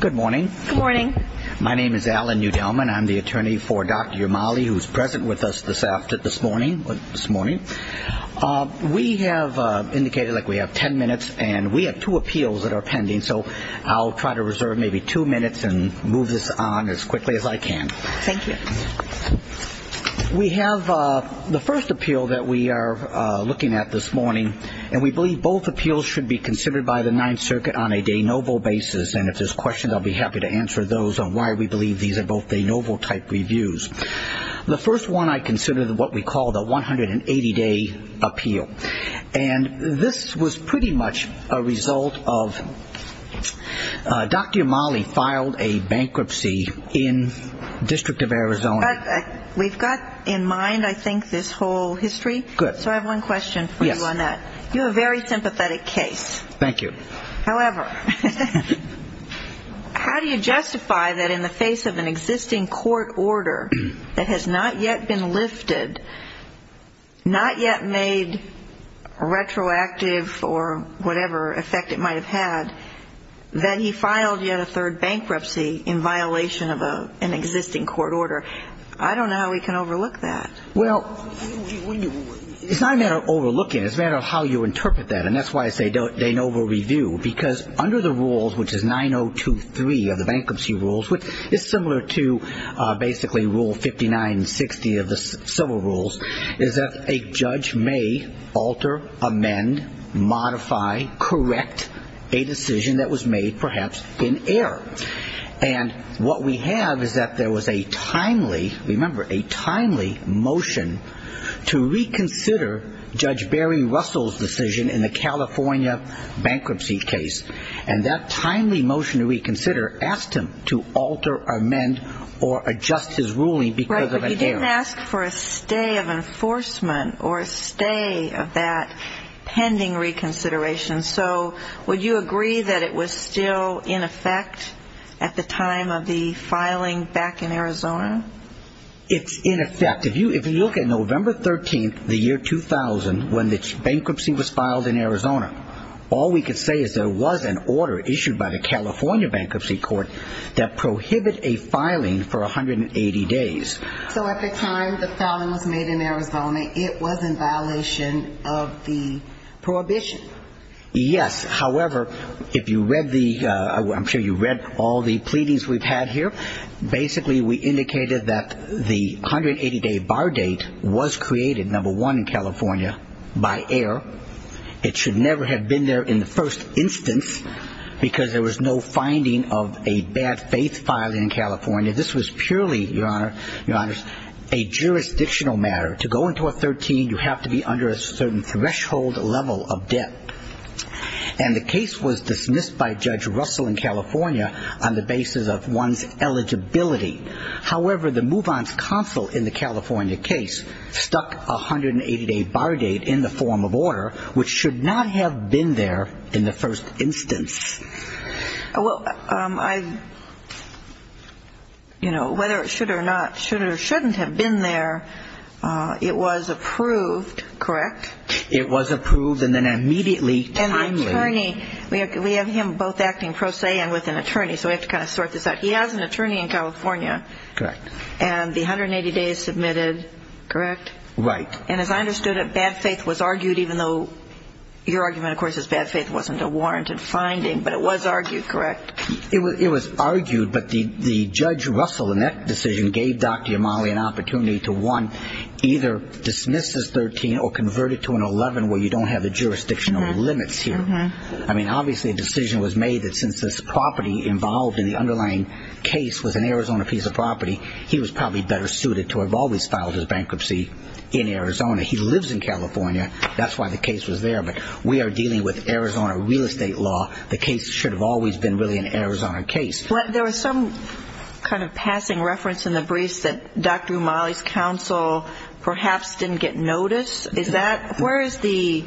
Good morning. Good morning. My name is Alan Newdelman. I'm the attorney for Dr. Umali who is present with us this morning. We have indicated that we have 10 minutes and we have two appeals that are pending so I'll try to reserve maybe two minutes and move this on as quickly as I can. Thank you. We have the first appeal that we are looking at this morning and we believe both appeals should be considered by the Ninth Circuit on a de novo basis and if there's questions I'll be happy to answer those on why we believe these are both de novo type reviews. The first one I consider what we call the 180 day appeal and this was pretty much a result of Dr. Umali filed a bankruptcy in District of Arizona. We've got in mind I think this whole history. So I have one question for you on that. You have a very sympathetic case. Thank you. However, how do you justify that in the face of an existing court order that has not yet been lifted, not yet made retroactive or whatever effect it might have had, that he filed yet a third bankruptcy in violation of an existing court order? I don't know how we can overlook that. Well, it's not a matter of overlooking it. It's a matter of how you interpret that and that's why I say de novo review because under the rules which is 9023 of the bankruptcy rules which is similar to basically rule 5960 of the civil rules is that a judge may alter, amend, modify, correct a decision that was made perhaps in error. And what we have is that there was a timely, remember a timely motion to reconsider Judge Barry Russell's decision in the California bankruptcy case and that timely motion to reconsider asked him to alter, amend, or adjust his ruling because of an error. Right, but you didn't ask for a stay of enforcement or a stay of that pending reconsideration. So would you agree that it was still in effect at the time of the filing back in Arizona? It's in effect. If you look at November 13th, the year 2000, when the bankruptcy was filed in Arizona, all we could say is there was an order issued by the California bankruptcy court that prohibit a filing for 180 days. So at the time the bankruptcy was filed, there was no finding of the prohibition. Yes, however, if you read the, I'm sure you read all the pleadings we've had here, basically we indicated that the 180-day bar date was created, number one in California, by error. It should never have been there in the first instance because there was no finding of a bad faith filing in California. This was purely, Your Honor, a jurisdictional matter. To go into a 13, you have to be under a certain threshold level of debt. And the case was dismissed by Judge Russell in California on the basis of one's eligibility. However, the move-on's counsel in the California case stuck a 180-day bar date in the form of order, which should not have been there in the first instance. Well, I, you know, whether it should or not, should or shouldn't have been there, it was approved, correct? It was approved and then immediately, timely. And the attorney, we have him both acting pro se and with an attorney, so we have to sort this out. He has an attorney in California. Correct. And the 180 days submitted, correct? Right. And as I understood it, bad faith was argued, even though your argument, of course, is bad faith wasn't a warranted finding, but it was argued, correct? It was argued, but the Judge Russell in that decision gave Dr. Yamali an opportunity to, one, either dismiss this 13 or convert it to an 11 where you don't have the jurisdictional limits here. I mean, obviously a decision was made that since this property involved in the underlying case was an Arizona piece of property, he was probably better suited to have always filed his bankruptcy in Arizona. He lives in California. That's why the case was there. But we are dealing with Arizona real estate law. The case should have always been really an Arizona case. But there was some kind of passing reference in the briefs that Dr. Yamali's counsel perhaps didn't get notice. Is that, where is the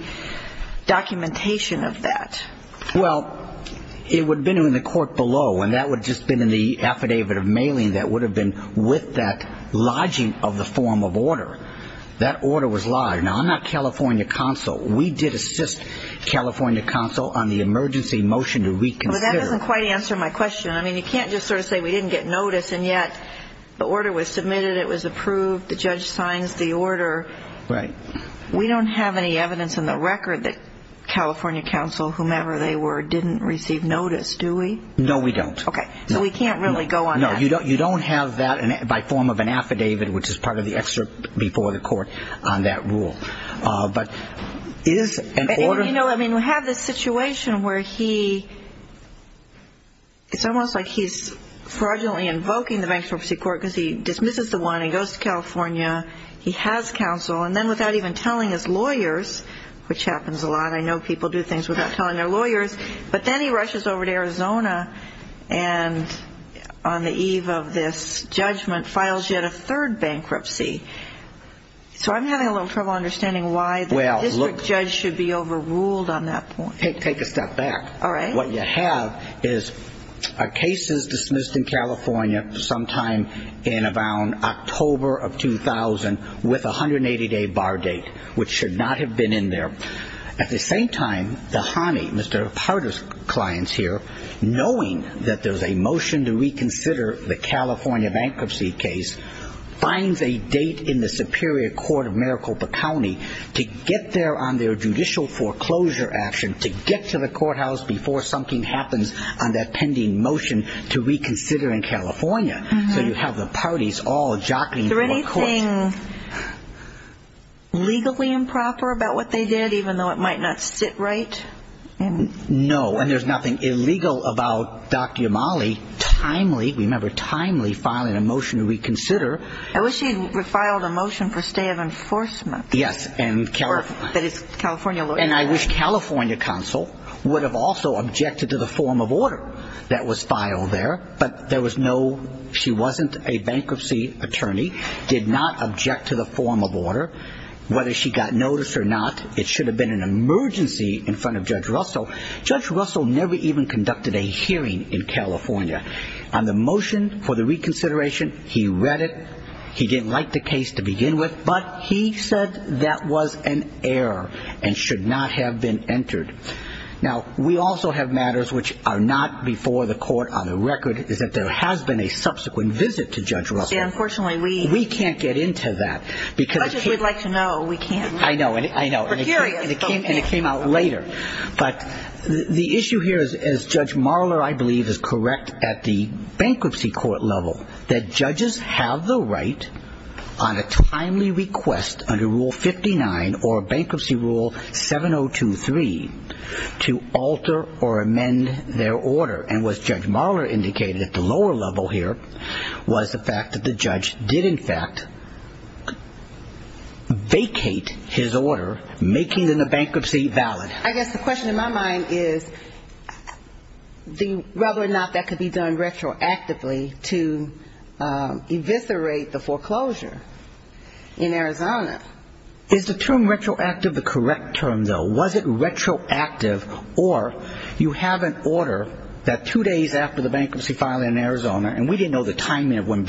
documentation of that? Well, it would have been in the court below, and that would have just been in the form of order. That order was live. Now, I'm not California counsel. We did assist California counsel on the emergency motion to reconsider. But that doesn't quite answer my question. I mean, you can't just sort of say we didn't get notice, and yet the order was submitted, it was approved, the judge signs the order. Right. We don't have any evidence in the record that California counsel, whomever they were, didn't receive notice, do we? No, we don't. Okay. So we can't really go on that. No, you don't have that by form of an affidavit, which is part of the excerpt before the court, on that rule. But is an order... You know, I mean, we have this situation where he, it's almost like he's fraudulently invoking the bankruptcy court because he dismisses the one and goes to California. He has counsel. And then without even telling his lawyers, which happens a lot. I know people do things without telling their lawyers. But then he rushes over to Arizona, and on the eve of this judgment, files yet a third bankruptcy. So I'm having a little trouble understanding why the district judge should be overruled on that point. Take a step back. All right. What you have is a case is dismissed in California sometime in around October of 2000 with a 180-day bar date, which should not have been in there. At the same time, the Hany, Mr. Parder's client's here, knowing that there's a motion to reconsider the California bankruptcy case, finds a date in the Superior Court of Maricopa County to get there on their judicial foreclosure action, to get to the courthouse before something happens on that pending motion to reconsider in California. So you have the parties all jockeying to a court. Is there anything legally improper about what they did, even though it might not sit right? No. And there's nothing illegal about Dr. Yamali timely, remember, timely filing a motion to reconsider. I wish she had filed a motion for stay of enforcement. Yes. That is, California lawyers. And I wish California counsel would have also objected to the form of order that was filed there. But there was no, she wasn't a bankruptcy attorney, did not object to the form of order. Whether she got noticed or not, it should have been an emergency in front of Judge Russell. Judge Russell never even conducted a hearing in California on the motion for the reconsideration. He read it. He didn't like the case to begin with, but he said that was an error and should not have been entered. Now, we also have matters which are not before the court on the record is that there has been a subsequent visit to Judge Russell. Unfortunately, we can't get into that. As much as we'd like to know, we can't. I know. We're curious. And it came out later. But the issue here is, as Judge Marler, I believe, is correct at the bankruptcy court level, that judges have the right on a timely request under Rule 59 or Bankruptcy Rule 7023 to alter or amend their order. And what Judge Marler indicated at the lower level here was the fact that the judge did, in fact, vacate his order, making the bankruptcy valid. I guess the question in my mind is whether or not that could be done retroactively to eviscerate the foreclosure in Arizona. Is the term retroactive the correct term, though? Was it retroactive, or you have an order that two days after the bankruptcy filing in Arizona, and we didn't know the timing of when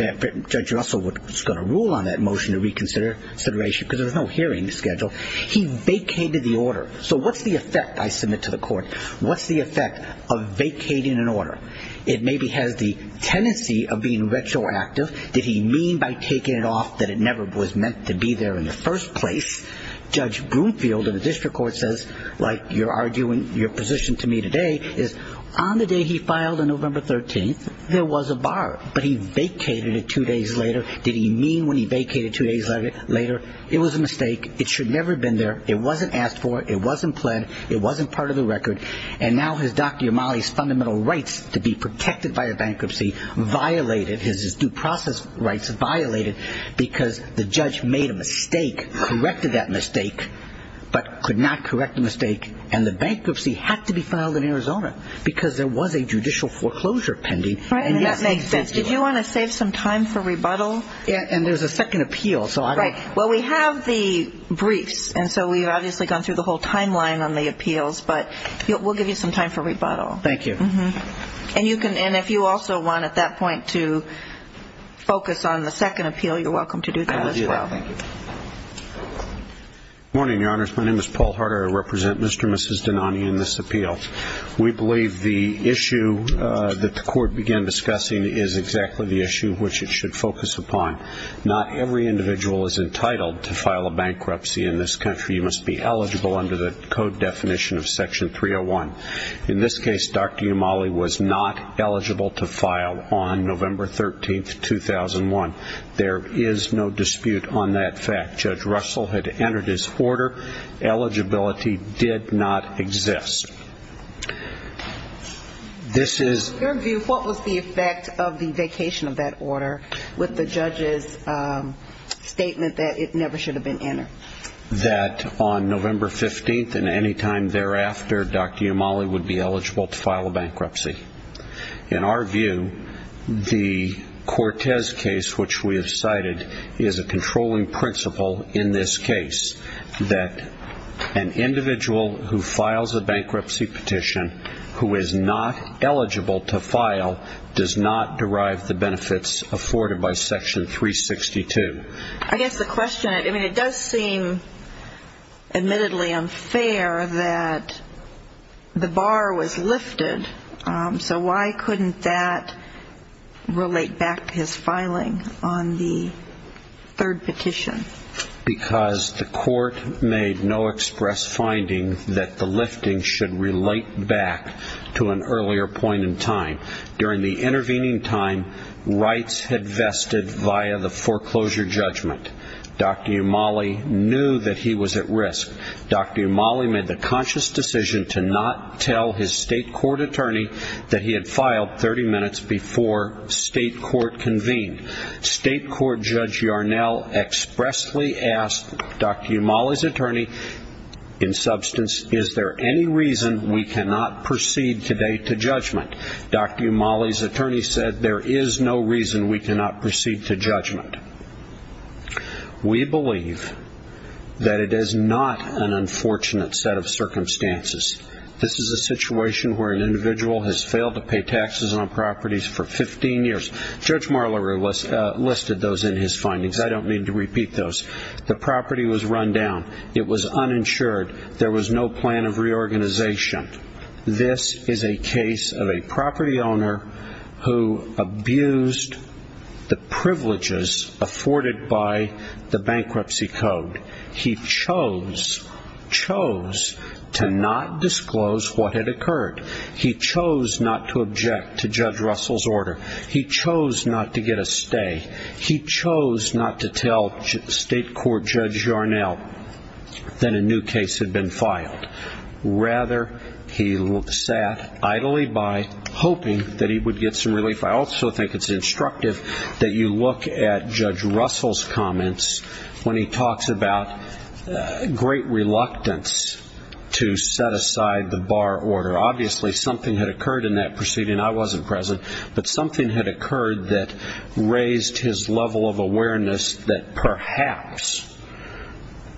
Judge Russell was going to rule on that motion to reconsider, because there was no hearing scheduled, he vacated the order. So what's the effect, I submit to the court? What's the effect of vacating an order? It maybe has the tendency of being retroactive. Did he mean by taking it off that it never was meant to be there in the first place? Judge Broomfield of the district court says, like you're arguing your position to me today, is on the day he filed on November 13th, there was a bar, but he vacated it two days later. Did he mean when he vacated it two days later? It was a mistake. It should never have been there. It wasn't asked for. It wasn't pled. It wasn't part of the record. And now Dr. Yamali's fundamental rights to be protected by a bankruptcy violated, his due process rights violated, because the judge made a mistake, corrected that mistake, but could not correct the mistake, and the bankruptcy had to be filed in Arizona, because there was a judicial foreclosure pending. And that makes sense. Did you want to save some time for rebuttal? And there's a second appeal. Well, we have the briefs, and so we've obviously gone through the whole timeline on the appeals, but we'll give you some time for rebuttal. Thank you. And if you also want, at that point, to focus on the second appeal, you're welcome to do that as well. I will do that. Thank you. Good morning, Your Honors. My name is Paul Harder. I represent Mr. and Mrs. Dinani in this appeal. We believe the issue that the court began discussing is exactly the issue which it should focus upon. Not every individual is entitled to file a bankruptcy in this country. You must be eligible under the code definition of Section 301. In this case, Dr. Yamali was not eligible to file on November 13, 2001. There is no dispute on that fact. Judge Russell had entered his order. Eligibility did not exist. In your view, what was the effect of the vacation of that order with the judge's statement that it never should have been entered? That on November 15th and any time thereafter, Dr. Yamali would be eligible to file a bankruptcy. In our view, the Cortez case, which we have cited, is a controlling principle in this case that an individual who files a bankruptcy petition who is not eligible to file does not derive the benefits afforded by Section 362. I guess the question, I mean, it does seem admittedly unfair that the bar was lifted. So why couldn't that relate back to his filing on the third petition? Because the court made no express finding that the lifting should relate back to an earlier point in time. During the intervening time, rights had vested via the foreclosure judgment. Dr. Yamali knew that he was at risk. Dr. Yamali made the conscious decision to not tell his state court attorney that he had filed 30 minutes before state court convened. State court Judge Yarnell expressly asked Dr. Yamali's attorney in substance, is there any reason we cannot proceed today to judgment? Dr. Yamali's attorney said, there is no reason we cannot proceed to judgment. We believe that it is not an unfortunate set of circumstances. This is a situation where an individual has failed to pay taxes on properties for 15 years. Judge Marler listed those in his findings. I don't mean to repeat those. The property was run down. It was uninsured. There was no plan of reorganization. This is a case of a property owner who abused the privileges afforded by the bankruptcy code. He chose, chose to not disclose what had occurred. He chose not to object to Judge Russell's order. He chose not to get a stay. He chose not to tell state court Judge Yarnell that a new case had been filed. Rather, he sat idly by hoping that he would get some relief. I also think it's instructive that you look at Judge Russell's comments when he talks about great reluctance to set aside the bar order. Obviously, something had occurred in that proceeding. I wasn't present. But something had occurred that raised his level of awareness that perhaps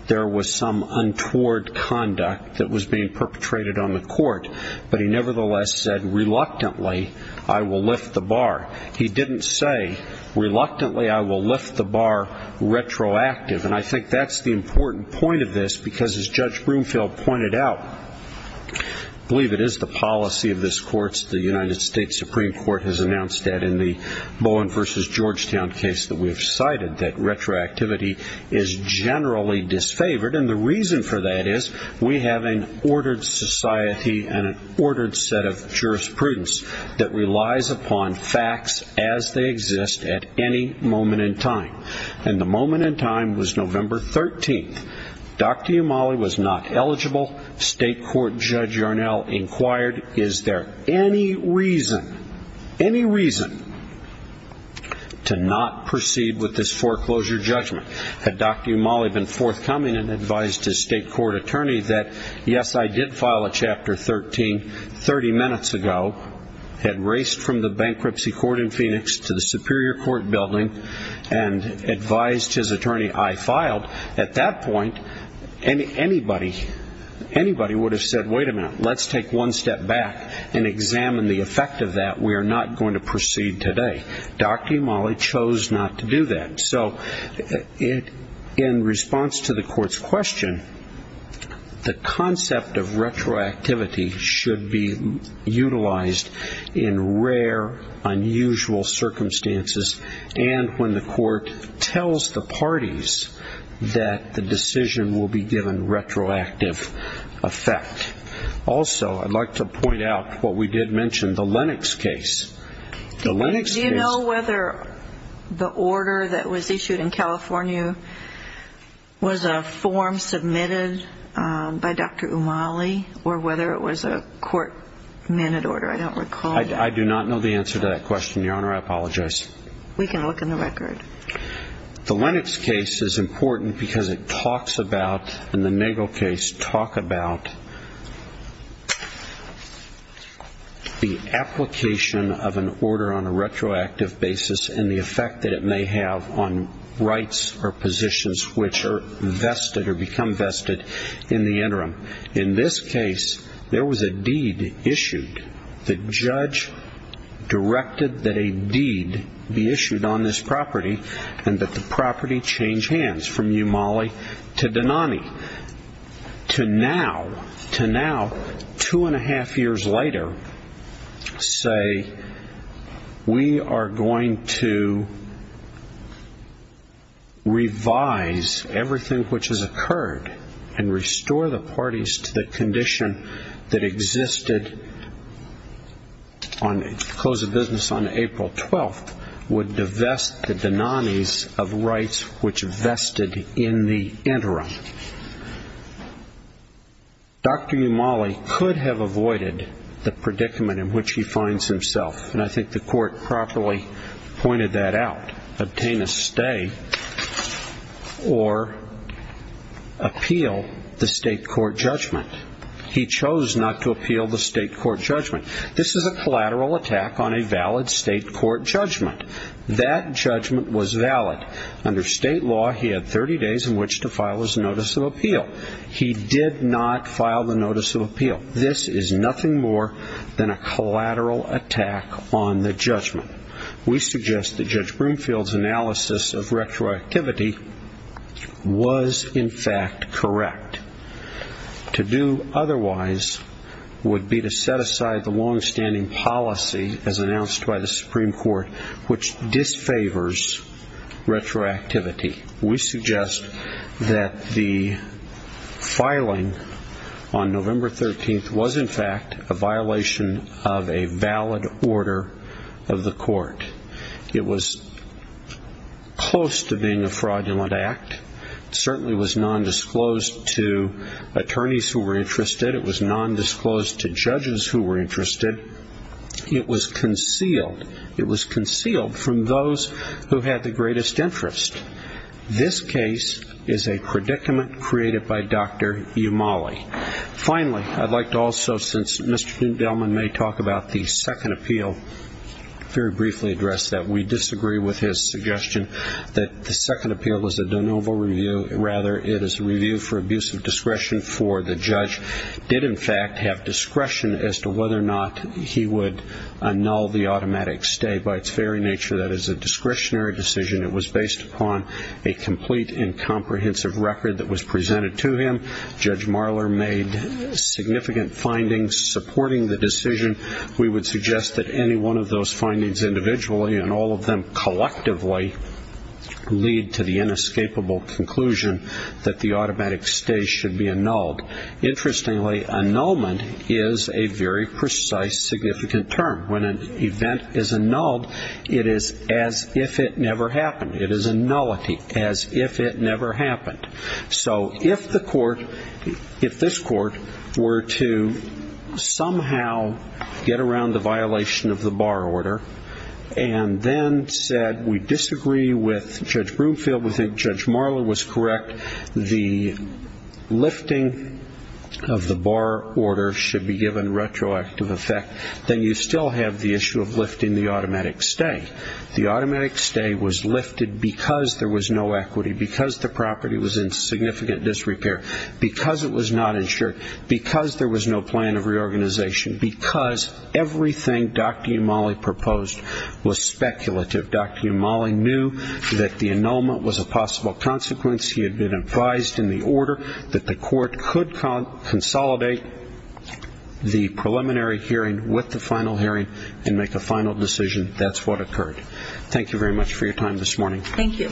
there was some untoward conduct that was being perpetrated on the court. But he nevertheless said, reluctantly, I will lift the bar. He didn't say, reluctantly, I will lift the bar retroactive. And I think that's the important point of this because, as Judge Broomfield pointed out, I believe it is the policy of this court, the United States Supreme Court, has announced that in the Bowen v. Georgetown case that we've cited, that retroactivity is generally disfavored. And the reason for that is we have an ordered society and an ordered set of jurisprudence that relies upon facts as they exist at any moment in time. And the moment in time was November 13th. Dr. Umali was not eligible. State Court Judge Yarnell inquired, is there any reason, any reason to not proceed with this foreclosure judgment? Had Dr. Umali been forthcoming and advised his state court attorney that, yes, I did file a Chapter 13 30 minutes ago, had raced from the bankruptcy court in Phoenix to the Superior Court building and advised his attorney, I filed. At that point, anybody would have said, wait a minute, let's take one step back and examine the effect of that. We are not going to proceed today. Dr. Umali chose not to do that. So in response to the court's question, the concept of retroactivity should be utilized in rare, unusual circumstances. And when the court tells the parties that the decision will be given retroactive effect. Also, I'd like to point out what we did mention, the Lennox case. Do you know whether the order that was issued in California was a form submitted by Dr. Umali or whether it was a court-mandated order? I don't recall that. I do not know the answer to that question, Your Honor. I apologize. We can look in the record. The Lennox case is important because it talks about, in the Nagle case, talk about the application of an order on a retroactive basis and the effect that it may have on rights or positions which are vested or become vested in the interim. In this case, there was a deed issued. The judge directed that a deed be issued on this property and that the property change hands from Umali to Denani. To now, two and a half years later, say we are going to revise everything which has occurred and restore the parties to the condition that existed on the close of business on April 12th would divest the Denanis of rights which vested in the interim. Dr. Umali could have avoided the predicament in which he finds himself, and I think the court properly pointed that out, obtain a stay or appeal the state court judgment. He chose not to appeal the state court judgment. This is a collateral attack on a valid state court judgment. That judgment was valid. Under state law, he had 30 days in which to file his notice of appeal. He did not file the notice of appeal. This is nothing more than a collateral attack on the judgment. We suggest that Judge Broomfield's analysis of retroactivity was, in fact, correct. To do otherwise would be to set aside the longstanding policy, as announced by the Supreme Court, which disfavors retroactivity. We suggest that the filing on November 13th was, in fact, a violation of a valid order of the court. It was close to being a fraudulent act. It certainly was nondisclosed to attorneys who were interested. It was nondisclosed to judges who were interested. It was concealed. It was concealed from those who had the greatest interest. This case is a predicament created by Dr. Umali. Finally, I'd like to also, since Mr. Doudelman may talk about the second appeal, very briefly address that we disagree with his suggestion that the second appeal was a de novo review. Rather, it is a review for abuse of discretion for the judge. It did, in fact, have discretion as to whether or not he would annul the automatic stay. By its very nature, that is a discretionary decision. It was based upon a complete and comprehensive record that was presented to him. Judge Marler made significant findings supporting the decision. We would suggest that any one of those findings individually and all of them collectively lead to the inescapable conclusion that the automatic stay should be annulled. Interestingly, annulment is a very precise, significant term. When an event is annulled, it is as if it never happened. It is a nullity, as if it never happened. So if the court, if this court were to somehow get around the violation of the bar order and then said we disagree with Judge Broomfield, we think Judge Marler was correct, the lifting of the bar order should be given retroactive effect, then you still have the issue of lifting the automatic stay. The automatic stay was lifted because there was no equity, because the property was in significant disrepair, because it was not insured, because there was no plan of reorganization, because everything Dr. Yamali proposed was speculative. Dr. Yamali knew that the annulment was a possible consequence. He had been advised in the order that the court could consolidate the preliminary hearing and make a final decision. That's what occurred. Thank you very much for your time this morning. Thank you.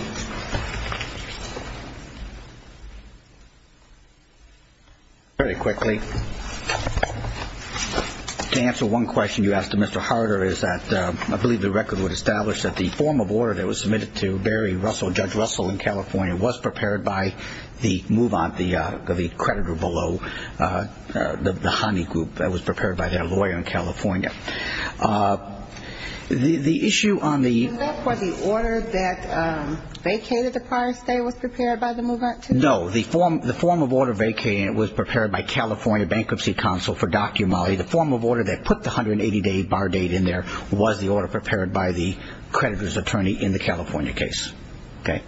Very quickly, to answer one question you asked of Mr. Harder is that I believe the record would establish that the form of order that was submitted to Barry Russell, Judge Russell in California, was prepared by the move-on, the creditor below, the honey group that was prepared by their lawyer in California. The issue on the order that vacated the prior stay was prepared by the move-on too? No. The form of order vacated was prepared by California Bankruptcy Council for Dr. Yamali. The form of order that put the 180-day bar date in there was the order prepared by the creditor's attorney in the California case.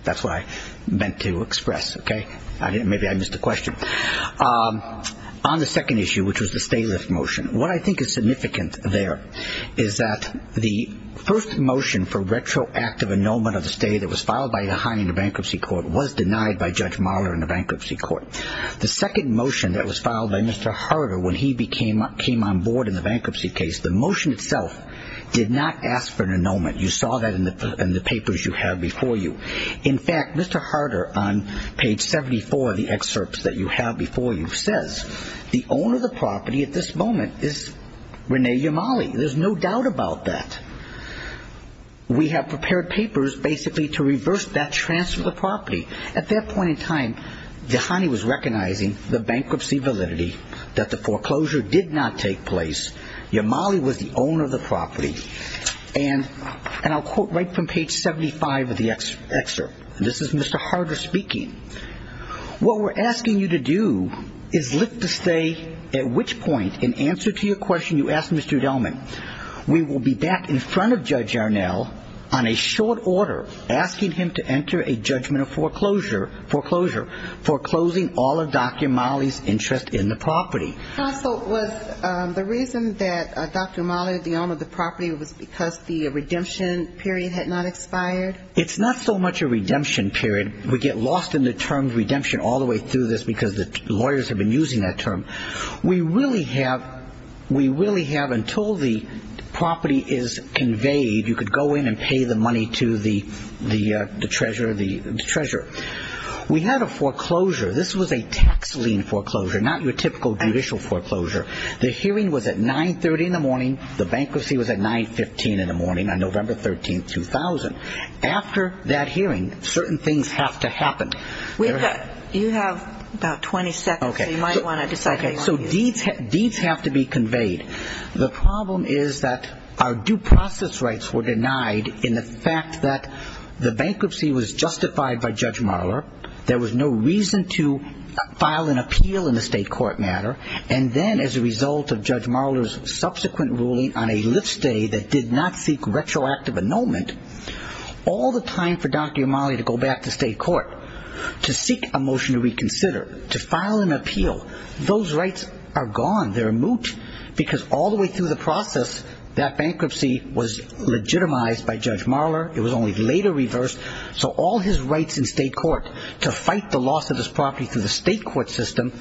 That's what I meant to express. Maybe I missed a question. On the second issue, which was the stay-lift motion, what I think is significant there is that the first motion for retroactive annulment of the stay that was filed by the Highlander Bankruptcy Court was denied by Judge Mahler in the bankruptcy court. The second motion that was filed by Mr. Harder when he came on board in the bankruptcy case, the motion itself did not ask for an annulment. You saw that in the papers you have before you. In fact, Mr. Harder, on page 74 of the excerpts that you have before you, says the owner of the property at this moment is Rene Yamali. There's no doubt about that. We have prepared papers basically to reverse that transfer of the property. At that point in time, Dhani was recognizing the bankruptcy validity, that the foreclosure did not take place, Yamali was the owner of the property, and I'll quote right from page 75 of the excerpt. This is Mr. Harder speaking. What we're asking you to do is lift the stay, at which point in answer to your question you asked, Mr. Udelman, we will be back in front of Judge Arnell on a short order asking him to enter a judgment of foreclosure, foreclosing all of Dr. Yamali's interest in the property. So was the reason that Dr. Yamali, the owner of the property, was because the redemption period had not expired? It's not so much a redemption period. We get lost in the term redemption all the way through this because the lawyers have been using that term. We really have until the property is conveyed, you could go in and pay the money to the treasurer. We had a foreclosure. This was a tax lien foreclosure, not your typical judicial foreclosure. The hearing was at 930 in the morning. The bankruptcy was at 915 in the morning on November 13, 2000. After that hearing, certain things have to happen. You have about 20 seconds, so you might want to decide what you want to do. So deeds have to be conveyed. The problem is that our due process rights were denied in the fact that the bankruptcy was justified by Judge Marler. There was no reason to file an appeal in a state court matter. And then as a result of Judge Marler's subsequent ruling on a lift stay that did not seek retroactive annulment, all the time for Dr. Yamali to go back to state court to seek a motion to reconsider, to file an appeal, those rights are gone. They're moot because all the way through the process, that bankruptcy was legitimized by Judge Marler. It was only later reversed. So all his rights in state court to fight the loss of his property through the state court system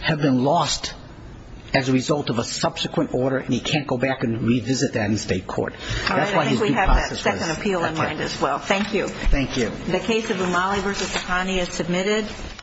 have been lost as a result of a subsequent order, and he can't go back and revisit that in state court. All right, I think we have that second appeal in mind as well. Thank you. Thank you. The case of Yamali v. Takani is submitted.